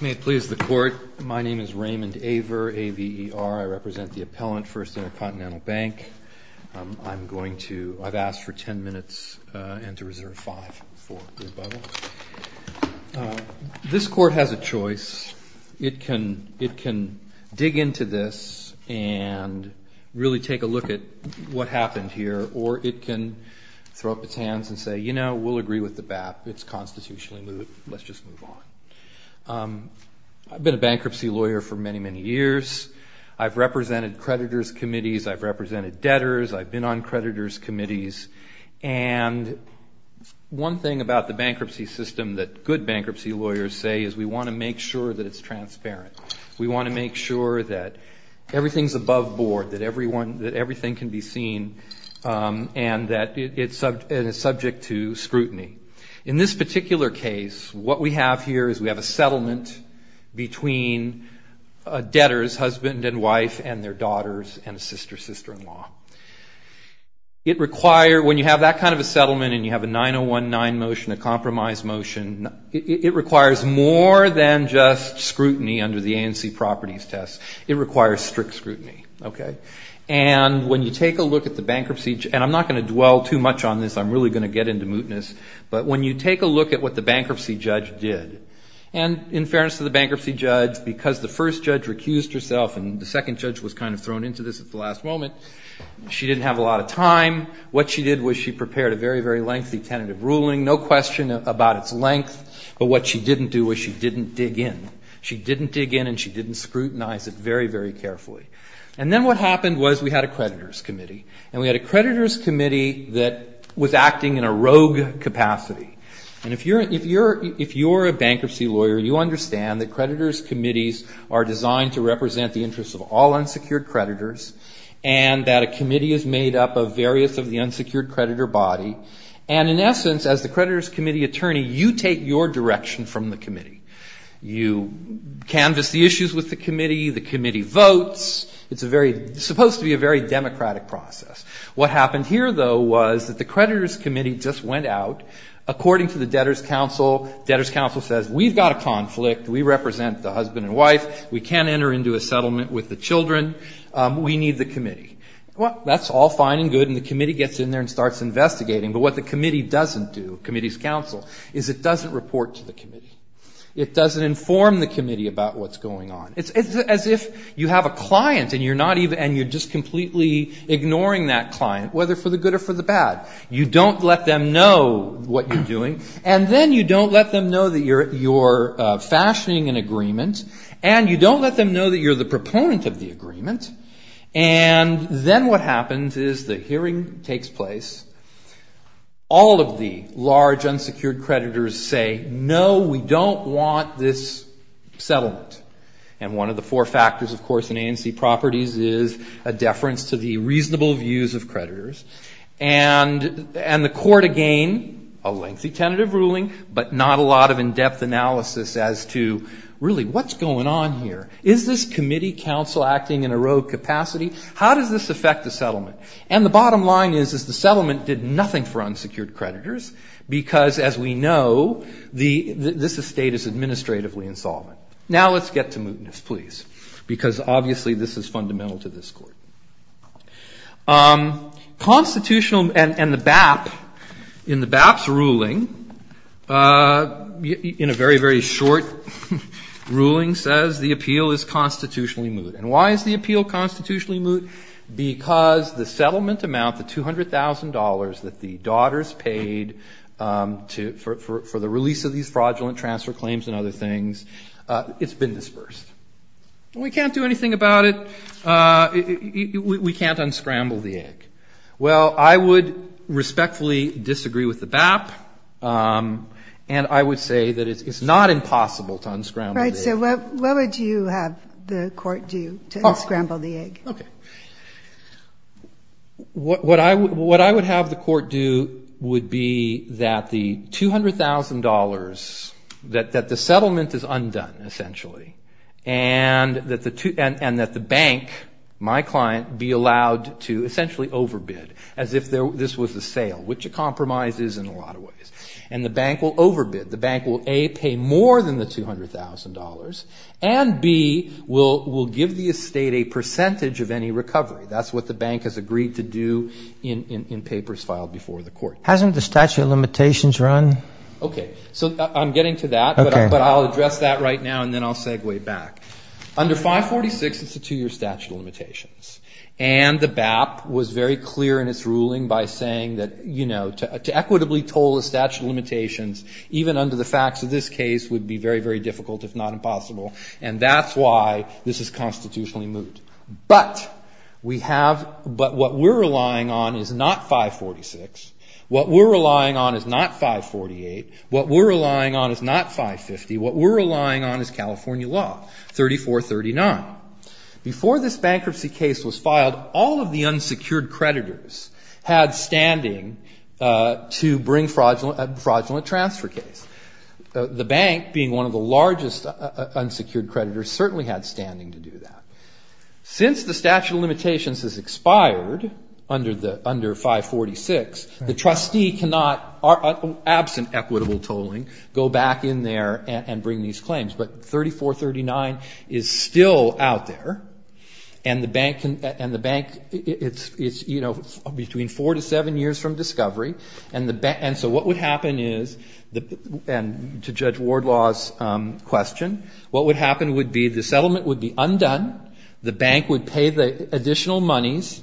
May it please the court, my name is Raymond Aver, A-V-E-R, I represent the appellant, First Intercontinental Bank. I'm going to, I've asked for ten minutes and to reserve five for rebuttal. This court has a choice, it can dig into this and really take a look at what happened here, or it can throw up its hands and say, you know, we'll agree with the BAP, it's constitutionally moot, let's just move on. I've been a bankruptcy lawyer for many, many years. I've represented creditors' committees, I've represented debtors, I've been on creditors' committees, and one thing about the bankruptcy system that good bankruptcy lawyers say is we want to make sure that it's transparent. We want to make sure that everything's above board, that everyone, that everything can be seen and that it's subject to scrutiny. In this particular case, what we have here is we have a settlement between a debtor's husband and wife and their daughters and a sister, sister-in-law. It require, when you have that kind of a settlement and you have a 9019 motion, a compromise motion, it requires more than just scrutiny under the ANC properties test. It requires strict scrutiny, okay? And when you take a look at the bankruptcy, and I'm not going to dwell too much on this, I'm really going to get into mootness, but when you take a look at what the bankruptcy judge did, and in fairness to the bankruptcy judge, because the first judge recused herself and the second judge was kind of thrown into this at the last moment, she didn't have a lot of time. What she did was she prepared a very, very lengthy tentative ruling, no question about its length, but what she didn't do was she didn't dig in. She didn't dig in and she didn't scrutinize it very, very carefully. And then what happened was we had a creditor's committee. And we had a creditor's committee that was acting in a rogue capacity. And if you're a bankruptcy lawyer, you understand that creditor's committees are designed to represent the interests of all unsecured creditors and that a committee is made up of various of the unsecured creditor body. And in essence, as the creditor's committee attorney, you take your direction from the committee. You canvass the issues with the committee. The committee votes. It's supposed to be a very democratic process. What happened here, though, was that the creditor's committee just went out. According to the debtor's council, debtor's council says, we've got a conflict. We represent the husband and wife. We can't enter into a settlement with the children. We need the committee. Well, that's all fine and good. And the committee gets in there and starts investigating. But what the committee doesn't do, committee's council, is it doesn't report to the committee. It doesn't inform the committee about what's going on. It's as if you have a client and you're just completely ignoring that client, whether for the good or for the bad. You don't let them know what you're doing. And then you don't let them know that you're fashioning an agreement. And you don't let them know that you're the proponent of the agreement. And then what happens is the hearing takes place. All of the large unsecured creditors say, no, we don't want this settlement. And one of the four factors, of course, in ANC properties is a deference to the reasonable views of creditors. And the court, again, a lengthy tentative ruling, but not a lot of in-depth analysis as to, really, what's going on here? Is this committee council acting in a rogue capacity? How does this affect the settlement? And the bottom line is, is the settlement did nothing for unsecured creditors because, as we know, this estate is administratively insolvent. Now let's get to mootness, please, because obviously this is fundamental to this court. Constitutional and the BAP, in the BAP's ruling, in a very, very short ruling, says the appeal is constitutionally moot. And why is the appeal constitutionally moot? Because the settlement amount, the $200,000 that the daughters paid for the release of these fraudulent transfer claims and other things, it's been disbursed. We can't do anything about it. We can't unscramble the egg. Well, I would respectfully disagree with the BAP, and I would say that it's not impossible to unscramble the egg. Right, so what would you have the court do to unscramble the egg? Okay. What I would have the court do would be that the $200,000, that the settlement is undone, essentially, and that the bank, my client, be allowed to essentially overbid, as if this was a sale, which a compromise is in a lot of ways. And the bank will overbid. The bank will, A, pay more than the $200,000, and, B, will give the estate a percentage of any recovery. That's what the bank has agreed to do in papers filed before the court. Hasn't the statute of limitations run? Okay, so I'm getting to that. Okay. But I'll address that right now, and then I'll segue back. And the BAP was very clear in its ruling by saying that, you know, to equitably toll the statute of limitations, even under the facts of this case, would be very, very difficult, if not impossible. And that's why this is constitutionally moot. But we have, but what we're relying on is not 546. What we're relying on is not 548. What we're relying on is not 550. What we're relying on is California law, 3439. Before this bankruptcy case was filed, all of the unsecured creditors had standing to bring fraudulent transfer case. The bank, being one of the largest unsecured creditors, certainly had standing to do that. Since the statute of limitations has expired under 546, the trustee cannot, absent equitable tolling, go back in there and bring these claims. But 3439 is still out there. And the bank can, and the bank, it's, you know, between four to seven years from discovery. And so what would happen is, and to Judge Wardlaw's question, what would happen would be the settlement would be undone, the bank would pay the additional monies,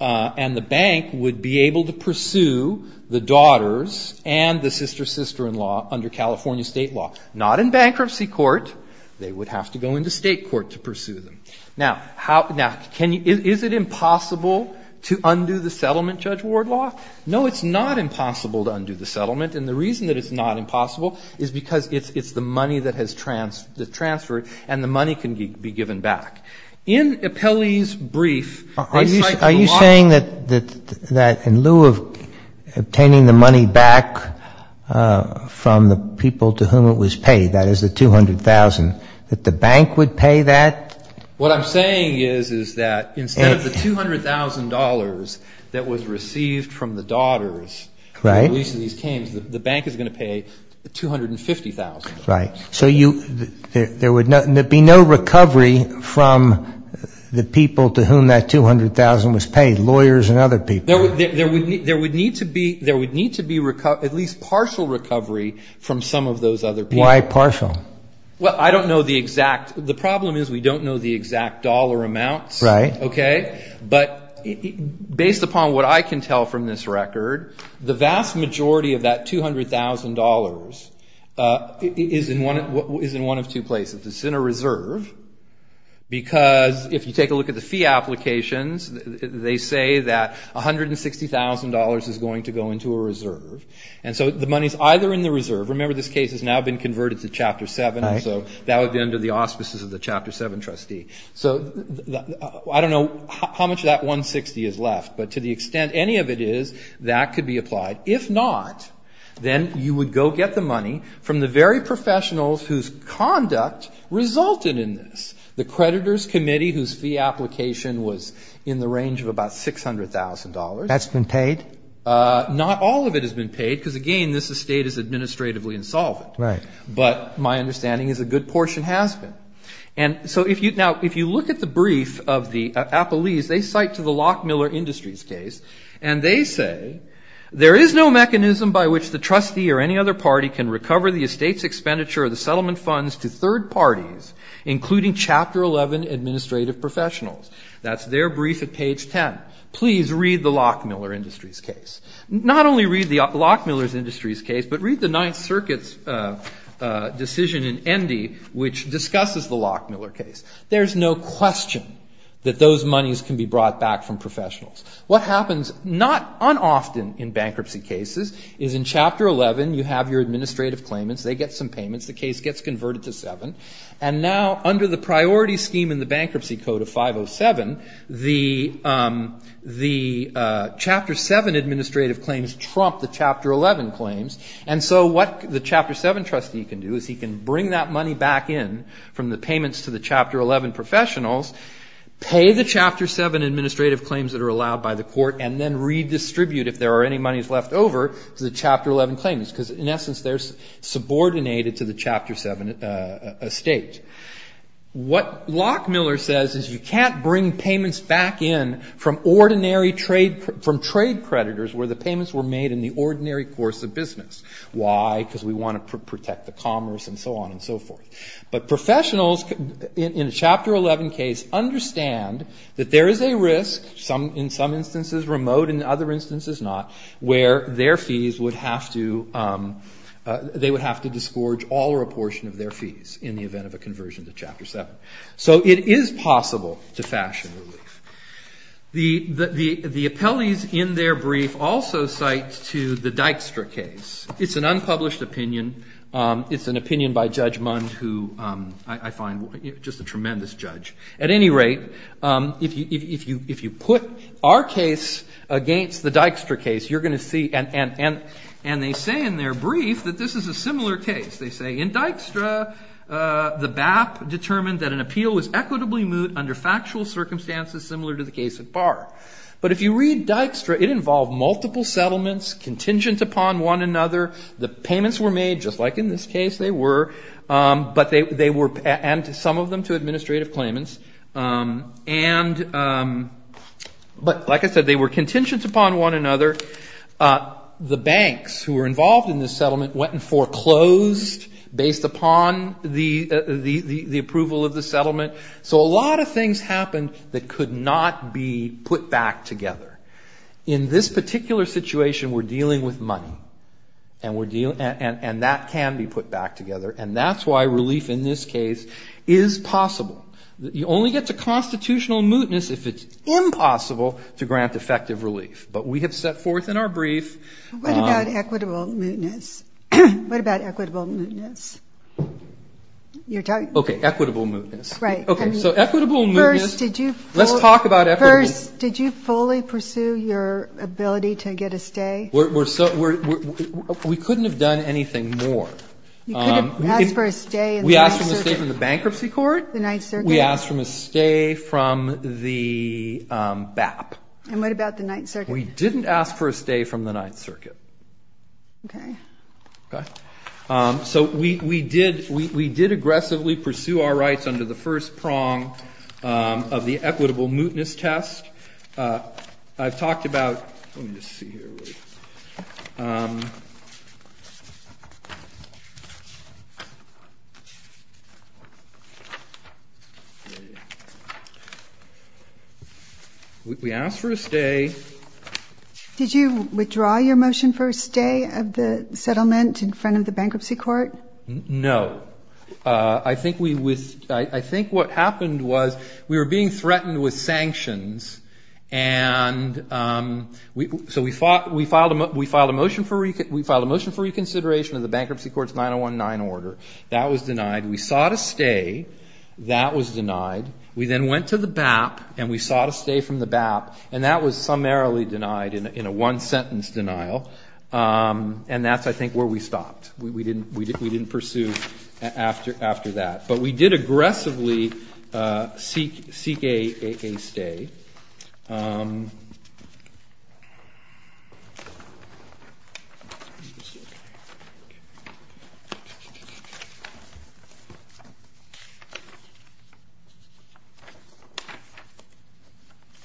and the bank would be able to pursue the daughters and the sister-sister-in-law under California state law. Not in bankruptcy court. They would have to go into state court to pursue them. Now, is it impossible to undo the settlement, Judge Wardlaw? No, it's not impossible to undo the settlement. And the reason that it's not impossible is because it's the money that has transferred and the money can be given back. In Appellee's brief, they cite the law. But you're saying that in lieu of obtaining the money back from the people to whom it was paid, that is the 200,000, that the bank would pay that? What I'm saying is, is that instead of the $200,000 that was received from the daughters, Right. releasing these claims, the bank is going to pay the 250,000. Right. So there would be no recovery from the people to whom that 200,000 was paid, lawyers and other people? There would need to be at least partial recovery from some of those other people. Why partial? Well, I don't know the exact. The problem is we don't know the exact dollar amounts. Right. Okay? But based upon what I can tell from this record, the vast majority of that $200,000 is in one of two places. It's in a reserve, because if you take a look at the fee applications, they say that $160,000 is going to go into a reserve. And so the money is either in the reserve. Remember, this case has now been converted to Chapter 7. Right. So that would be under the auspices of the Chapter 7 trustee. So I don't know how much of that $160,000 is left, but to the extent any of it is, that could be applied. If not, then you would go get the money from the very professionals whose conduct resulted in this, the creditors' committee whose fee application was in the range of about $600,000. That's been paid? Not all of it has been paid, because, again, this estate is administratively insolvent. Right. But my understanding is a good portion has been. And so now if you look at the brief of the Appellees, they cite to the Lockmiller Industries case, and they say, there is no mechanism by which the trustee or any other party can recover the estate's expenditure or the settlement funds to third parties, including Chapter 11 administrative professionals. That's their brief at page 10. Please read the Lockmiller Industries case. Not only read the Lockmiller Industries case, but read the Ninth Circuit's decision in Endy which discusses the Lockmiller case. There is no question that those monies can be brought back from professionals. What happens not unoften in bankruptcy cases is in Chapter 11 you have your administrative claimants. They get some payments. The case gets converted to 7. And now under the priority scheme in the Bankruptcy Code of 507, the Chapter 7 administrative claims trump the Chapter 11 claims. And so what the Chapter 7 trustee can do is he can bring that money back in from the payments to the Chapter 11 professionals, pay the Chapter 7 administrative claims that are allowed by the court, and then redistribute, if there are any monies left over, to the Chapter 11 claimants. Because in essence they're subordinated to the Chapter 7 estate. What Lockmiller says is you can't bring payments back in from ordinary trade, from trade creditors where the payments were made in the ordinary course of business. Why? Because we want to protect the commerce and so on and so forth. But professionals in a Chapter 11 case understand that there is a risk, in some instances remote, but in other instances not, where their fees would have to, they would have to disgorge all or a portion of their fees in the event of a conversion to Chapter 7. So it is possible to fashion relief. The appellees in their brief also cite to the Dykstra case. It's an unpublished opinion. It's an opinion by Judge Mund who I find just a tremendous judge. At any rate, if you put our case against the Dykstra case, you're going to see, and they say in their brief that this is a similar case. They say in Dykstra the BAP determined that an appeal was equitably moot under factual circumstances similar to the case at Barr. But if you read Dykstra, it involved multiple settlements contingent upon one another. The payments were made, just like in this case they were, but they were, and some of them to administrative claimants, and, but like I said, they were contingent upon one another. The banks who were involved in this settlement went and foreclosed based upon the approval of the settlement. So a lot of things happened that could not be put back together. In this particular situation, we're dealing with money, and that can be put back together, and that's why relief in this case is possible. You only get to constitutional mootness if it's impossible to grant effective relief. But we have set forth in our brief. What about equitable mootness? What about equitable mootness? You're talking? Okay, equitable mootness. Right. Okay, so equitable mootness. First, did you fully pursue your ability to get a stay? We couldn't have done anything more. You couldn't have asked for a stay in the Ninth Circuit? We asked for a stay from the bankruptcy court. The Ninth Circuit? We asked for a stay from the BAP. And what about the Ninth Circuit? We didn't ask for a stay from the Ninth Circuit. Okay. Okay? So we did aggressively pursue our rights under the first prong of the equitable mootness test. I've talked about we asked for a stay. Did you withdraw your motion for a stay of the settlement in front of the bankruptcy court? No. I think what happened was we were being threatened with sanctions, and so we filed a motion for reconsideration of the bankruptcy court's 9019 order. That was denied. We sought a stay. That was denied. We then went to the BAP, and we sought a stay from the BAP, and that was summarily denied in a one-sentence denial. And that's, I think, where we stopped. We didn't pursue after that. But we did aggressively seek a stay.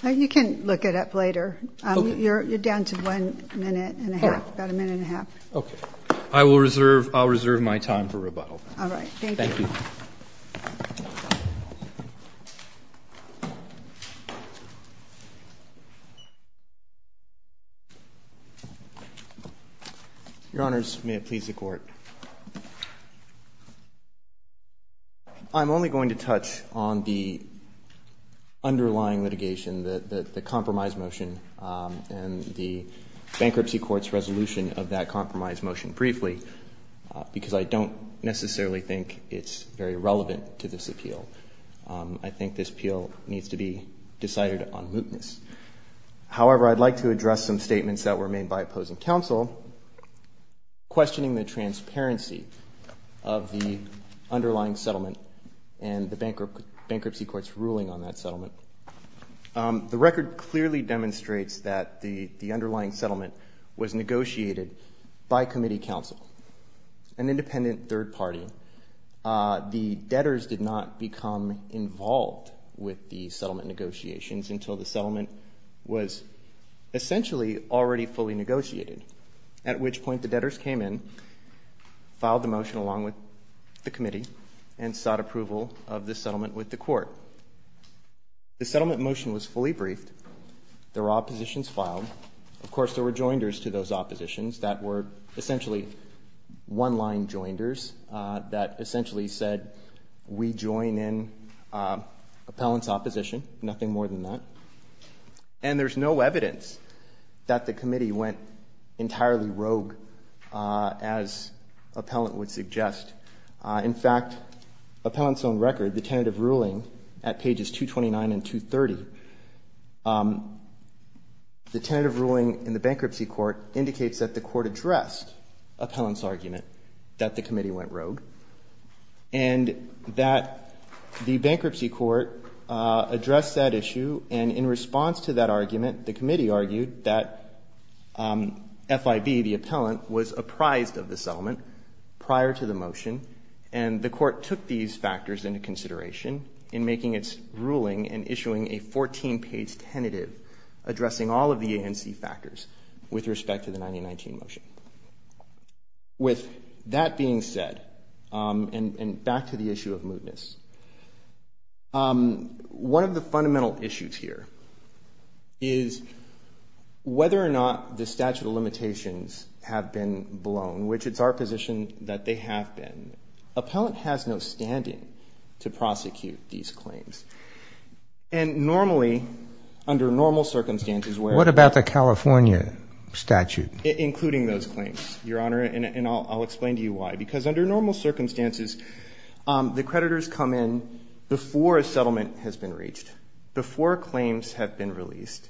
You can look it up later. You're down to one minute and a half, about a minute and a half. Okay. I will reserve my time for rebuttal. All right. Thank you. Thank you. Your Honors, may it please the Court. I'm only going to touch on the underlying litigation, the compromise motion, and the bankruptcy court's resolution of that compromise motion briefly, because I don't necessarily think it's very relevant to this appeal. I think this appeal needs to be decided on mootness. However, I'd like to address some statements that were made by opposing counsel questioning the transparency of the underlying settlement and the bankruptcy court's ruling on that settlement. The record clearly demonstrates that the underlying settlement was negotiated by committee counsel, an independent third party. The debtors did not become involved with the settlement negotiations until the settlement was essentially already fully negotiated, at which point the debtors came in, filed the motion along with the committee, and sought approval of the settlement with the court. The settlement motion was fully briefed. There were oppositions filed. Of course, there were joinders to those oppositions that were essentially one-line joinders that essentially said, we join in appellant's opposition, nothing more than that. And there's no evidence that the committee went entirely rogue, as appellant would suggest. In fact, appellant's own record, the tentative ruling at pages 229 and 230, the tentative ruling in the bankruptcy court indicates that the court addressed appellant's argument that the committee went rogue, and that the bankruptcy court addressed that issue. And in response to that argument, the committee argued that FIB, the appellant, was apprised of the settlement prior to the motion, and the court took these factors into consideration in making its ruling and issuing a 14-page tentative addressing all of the ANC factors with respect to the 1919 motion. With that being said, and back to the issue of mootness, one of the fundamental issues here is whether or not the statute of limitations have been blown, which it's our position that they have been. Appellant has no standing to prosecute these claims. And normally, under normal circumstances, where the ---- What about the California statute? Including those claims, Your Honor, and I'll explain to you why. Because under normal circumstances, the creditors come in before a settlement has been reached, before claims have been released.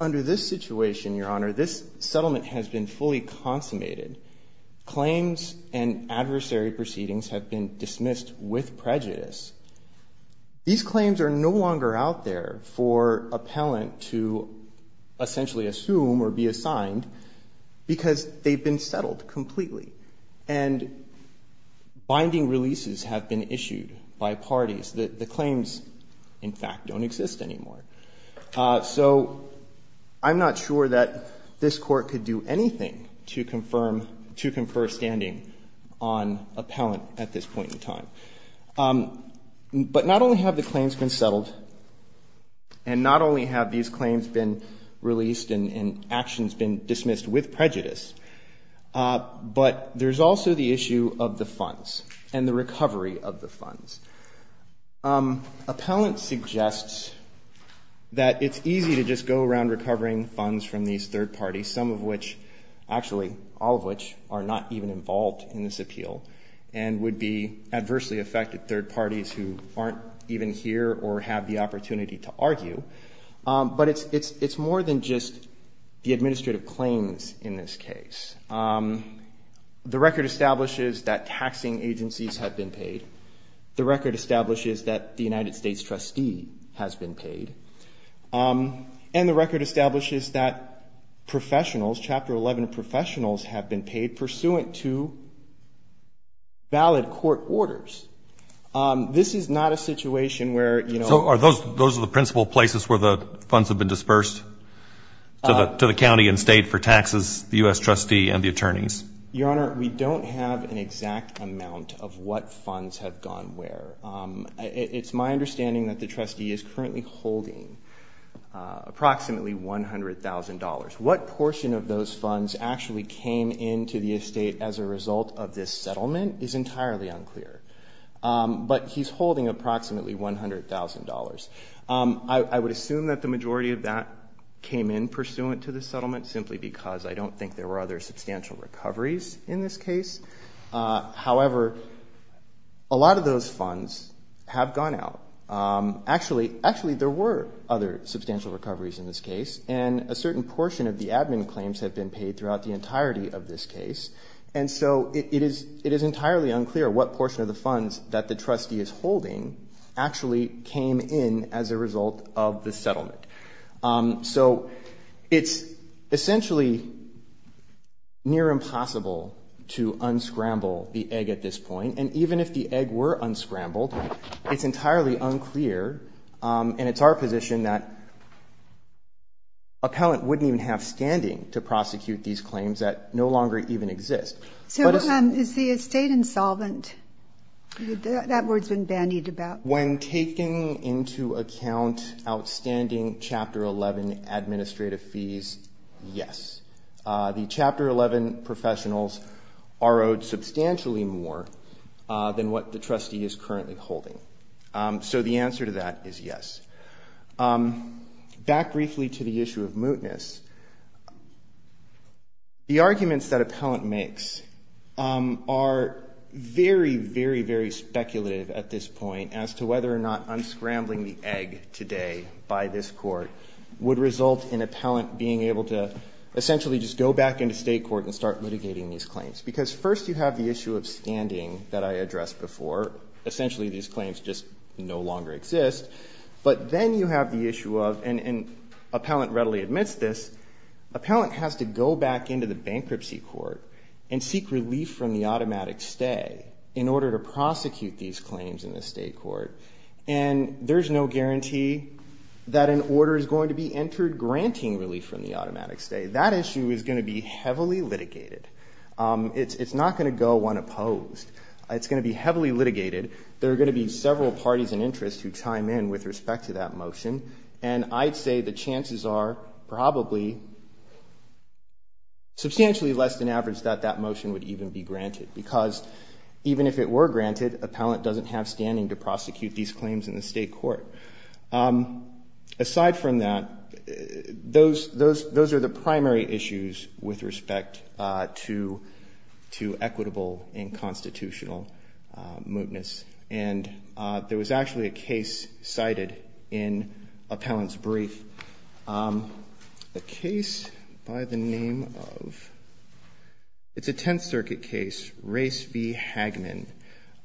Under this situation, Your Honor, this settlement has been fully consummated. Claims and adversary proceedings have been dismissed with prejudice. These claims are no longer out there for appellant to essentially assume or be assigned because they've been settled completely. And binding releases have been issued by parties. The claims, in fact, don't exist anymore. So I'm not sure that this Court could do anything to confirm ---- to confer standing on appellant at this point in time. But not only have the claims been settled, and not only have these claims been released and actions been dismissed with prejudice, but there's also the issue of the funds and the recovery of the funds. Appellant suggests that it's easy to just go around recovering funds from these third parties, some of which, actually all of which, are not even involved in this appeal and would be adversely affected third parties who aren't even here or have the opportunity to argue. But it's more than just the administrative claims in this case. The record establishes that taxing agencies have been paid. The record establishes that the United States trustee has been paid. And the record establishes that professionals, Chapter 11 professionals, have been paid pursuant to valid court orders. This is not a situation where, you know ---- So are those the principal places where the funds have been dispersed to the county and state for taxes, the U.S. trustee and the attorneys? Your Honor, we don't have an exact amount of what funds have gone where. It's my understanding that the trustee is currently holding approximately $100,000. What portion of those funds actually came into the estate as a result of this settlement is entirely unclear. But he's holding approximately $100,000. I would assume that the majority of that came in pursuant to the settlement simply because I don't think there were other substantial recoveries in this case. However, a lot of those funds have gone out. Actually, there were other substantial recoveries in this case, and a certain portion of the admin claims have been paid throughout the entirety of this case. And so it is entirely unclear what portion of the funds that the trustee is holding actually came in as a result of the settlement. So it's essentially near impossible to unscramble the egg at this point. And even if the egg were unscrambled, it's entirely unclear, and it's our position that a pellant wouldn't even have standing to prosecute these claims that no longer even exist. So is the estate insolvent? That word's been bandied about. When taking into account outstanding Chapter 11 administrative fees, yes. The Chapter 11 professionals are owed substantially more than what the trustee is currently holding. So the answer to that is yes. Back briefly to the issue of mootness. The arguments that a pellant makes are very, very, very speculative at this point as to whether or not unscrambling the egg today by this Court would result in a pellant being able to essentially just go back into state court and start litigating these claims. Because first you have the issue of standing that I addressed before. Essentially these claims just no longer exist. But then you have the issue of, and a pellant readily admits this, a pellant has to go back into the bankruptcy court and seek relief from the automatic stay in order to prosecute these claims in the state court. And there's no guarantee that an order is going to be entered granting relief from the automatic stay. That issue is going to be heavily litigated. It's not going to go unopposed. It's going to be heavily litigated. There are going to be several parties in interest who chime in with respect to that motion. And I'd say the chances are probably substantially less than average that that motion would even be granted. Because even if it were granted, a pellant doesn't have standing to prosecute these claims in the state court. It's not going to go unopposed to equitable and constitutional mootness. And there was actually a case cited in a pellant's brief. A case by the name of, it's a Tenth Circuit case, Race v. Hagman.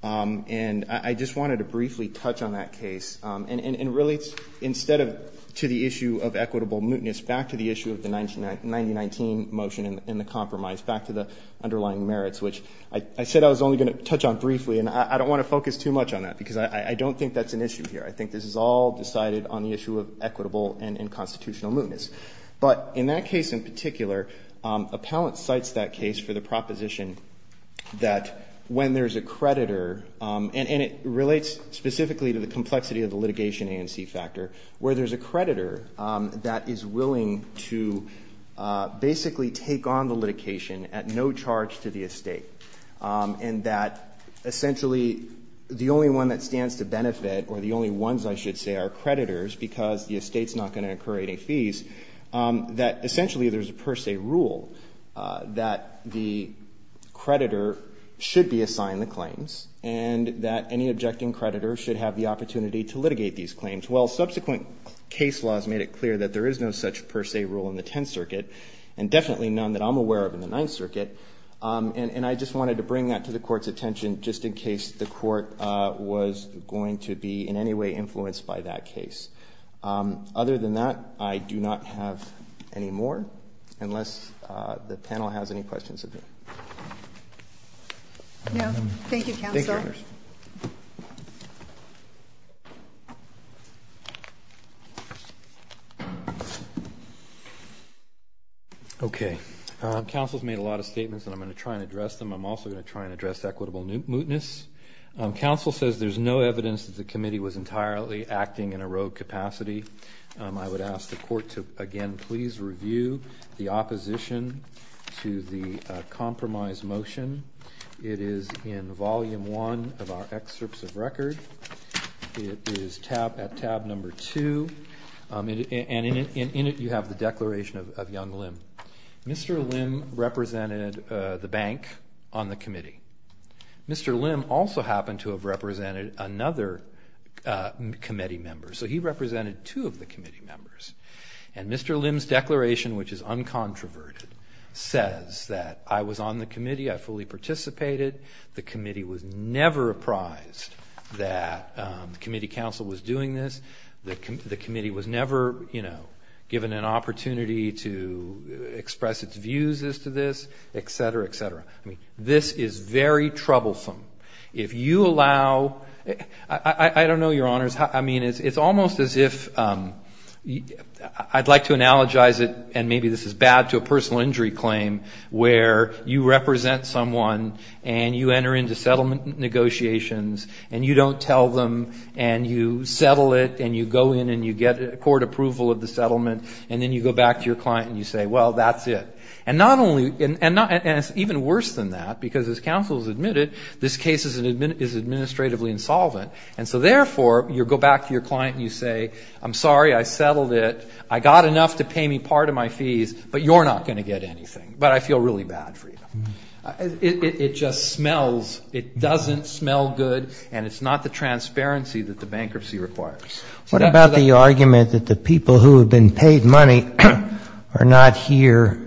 And I just wanted to briefly touch on that case. And it relates, instead of to the issue of equitable mootness, back to the issue of the 1919 motion and the compromise, back to the underlying merits, which I said I was only going to touch on briefly, and I don't want to focus too much on that, because I don't think that's an issue here. I think this is all decided on the issue of equitable and unconstitutional mootness. But in that case in particular, a pellant cites that case for the proposition that when there's a creditor, and it relates specifically to the complexity of the litigation ANC factor, where there's a creditor that is willing to basically take on the litigation at no charge to the estate, and that essentially the only one that stands to benefit, or the only ones, I should say, are creditors because the estate's not going to incur any fees, that essentially there's a per se rule that the creditor should be assigned the claims, and that any objecting creditor should have the opportunity to litigate these claims. Well, subsequent case laws made it clear that there is no such per se rule in the Tenth Circuit, and definitely none that I'm aware of in the Ninth Circuit, and I just wanted to bring that to the Court's attention just in case the Court was going to be in any way influenced by that case. Other than that, I do not have any more, unless the panel has any questions of me. Thank you, Counselor. Okay. Counsel's made a lot of statements, and I'm going to try and address them. I'm also going to try and address equitable mootness. Counsel says there's no evidence that the committee was entirely acting in a rogue capacity. I would ask the Court to, again, please review the opposition to the compromise motion. It is in Volume 1 of our excerpts of record. It is at tab number 2, and in it you have the declaration of Young Lim. Mr. Lim represented the bank on the committee. Mr. Lim also happened to have represented another committee member, so he represented two of the committee members. And Mr. Lim's declaration, which is uncontroverted, says that I was on the committee, I fully participated, the committee was never apprised that the committee counsel was doing this, the committee was never given an opportunity to express its views as to this, et cetera, et cetera. I mean, this is very troublesome. If you allow, I don't know, Your Honors, I mean, it's almost as if, I'd like to analogize it, and maybe this is bad, to a personal injury claim where you represent someone and you enter into settlement negotiations and you don't tell them and you settle it and you go in and you get court approval of the settlement and then you go back to your client and you say, well, that's it. And it's even worse than that, because as counsel has admitted, this case is administratively insolvent, and so therefore you go back to your client and you say, I'm sorry, I settled it, I got enough to pay me part of my fees, but you're not going to get anything, but I feel really bad for you. It just smells, it doesn't smell good, and it's not the transparency that the bankruptcy requires. What about the argument that the people who have been paid money are not here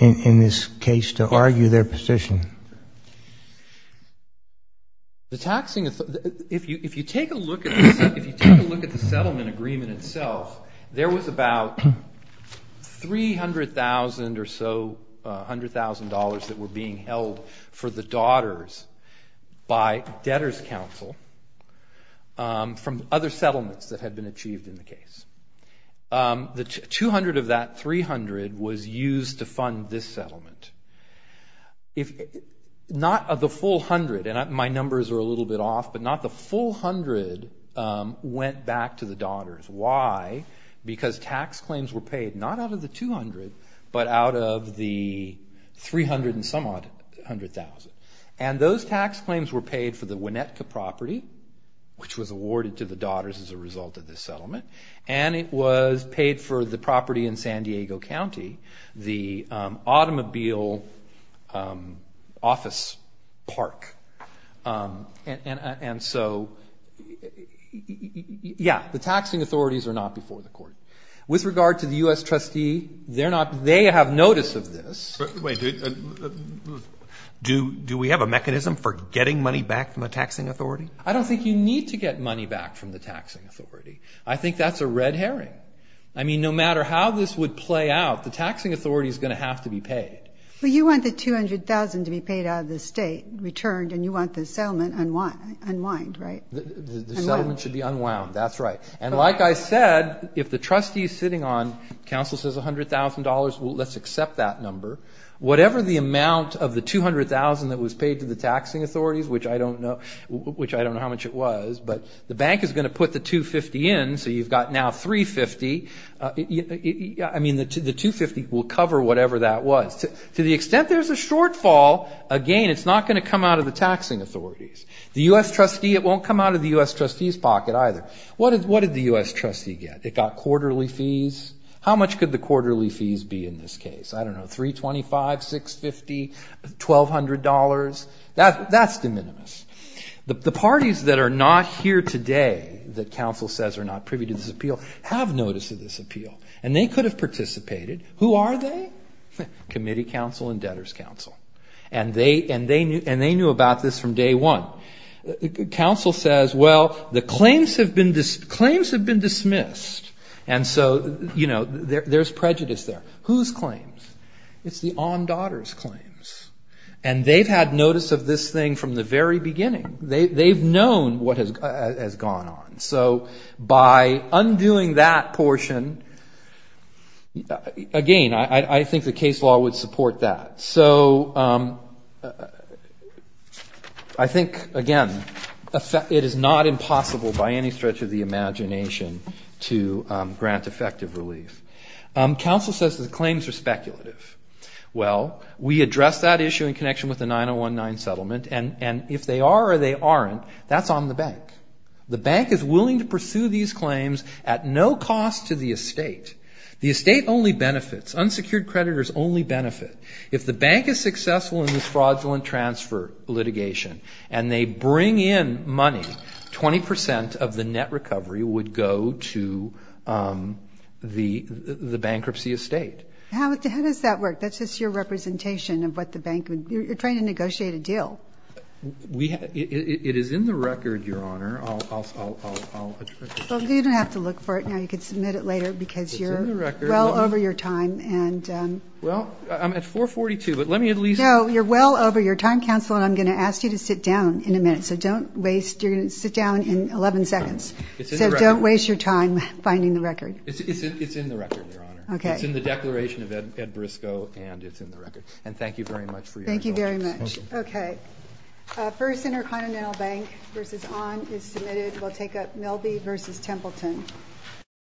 in this case to argue their position? The taxing, if you take a look at the settlement agreement itself, there was about $300,000 or so, $100,000 that were being held for the daughters by debtors' counsel from other settlements that had been achieved in the case. The $200,000 of that $300,000 was used to fund this settlement. Not of the full $100,000, and my numbers are a little bit off, but not the full $100,000 went back to the daughters. Why? Because tax claims were paid not out of the $200,000, but out of the $300,000 and some odd $100,000. Those tax claims were paid for the Winnetka property, which was awarded to the daughters as a result of this settlement, and it was paid for the property in San Diego County, the automobile office park. And so, yes, the taxing authorities are not before the Court. With regard to the U.S. trustee, they have notice of this. Do we have a mechanism for getting money back from a taxing authority? I don't think you need to get money back from the taxing authority. I think that's a red herring. I mean, no matter how this would play out, the taxing authority is going to have to be paid. Well, you want the $200,000 to be paid out of the state, returned, and you want the settlement unwound, right? The settlement should be unwound, that's right. And like I said, if the trustee is sitting on, counsel says $100,000, well, let's accept that number. Whatever the amount of the $200,000 that was paid to the taxing authorities, which I don't know how much it was, but the bank is going to put the $250,000 in, so you've got now $350,000. I mean, the $250,000 will cover whatever that was. To the extent there's a shortfall, again, it's not going to come out of the taxing authorities. The U.S. trustee, it won't come out of the U.S. trustee's pocket either. What did the U.S. trustee get? It got quarterly fees. How much could the quarterly fees be in this case? I don't know, $325,000, $650,000, $1,200,000? That's de minimis. The parties that are not here today, that counsel says are not privy to this appeal, have notice of this appeal, and they could have participated. Who are they? Committee counsel and debtor's counsel. And they knew about this from day one. Counsel says, well, the claims have been dismissed, and so, you know, there's prejudice there. Whose claims? It's the aunt daughter's claims. And they've had notice of this thing from the very beginning. They've known what has gone on. So by undoing that portion, again, I think the case law would support that. So I think, again, it is not impossible by any stretch of the imagination to grant effective relief. Counsel says the claims are speculative. Well, we addressed that issue in connection with the 9019 settlement, and if they are or they aren't, that's on the bank. The bank is willing to pursue these claims at no cost to the estate. The estate only benefits. Unsecured creditors only benefit. If the bank is successful in this fraudulent transfer litigation and they bring in money, 20 percent of the net recovery would go to the bankruptcy estate. How does that work? That's just your representation of what the bank would do. You're trying to negotiate a deal. It is in the record, Your Honor. You don't have to look for it now. You can submit it later because you're well over your time. Well, I'm at 4.42, but let me at least... No, you're well over your time, Counsel, and I'm going to ask you to sit down in a minute. So don't waste your time finding the record. It's in the record, Your Honor. It's in the Declaration of Ed Briscoe, and it's in the record. Thank you very much.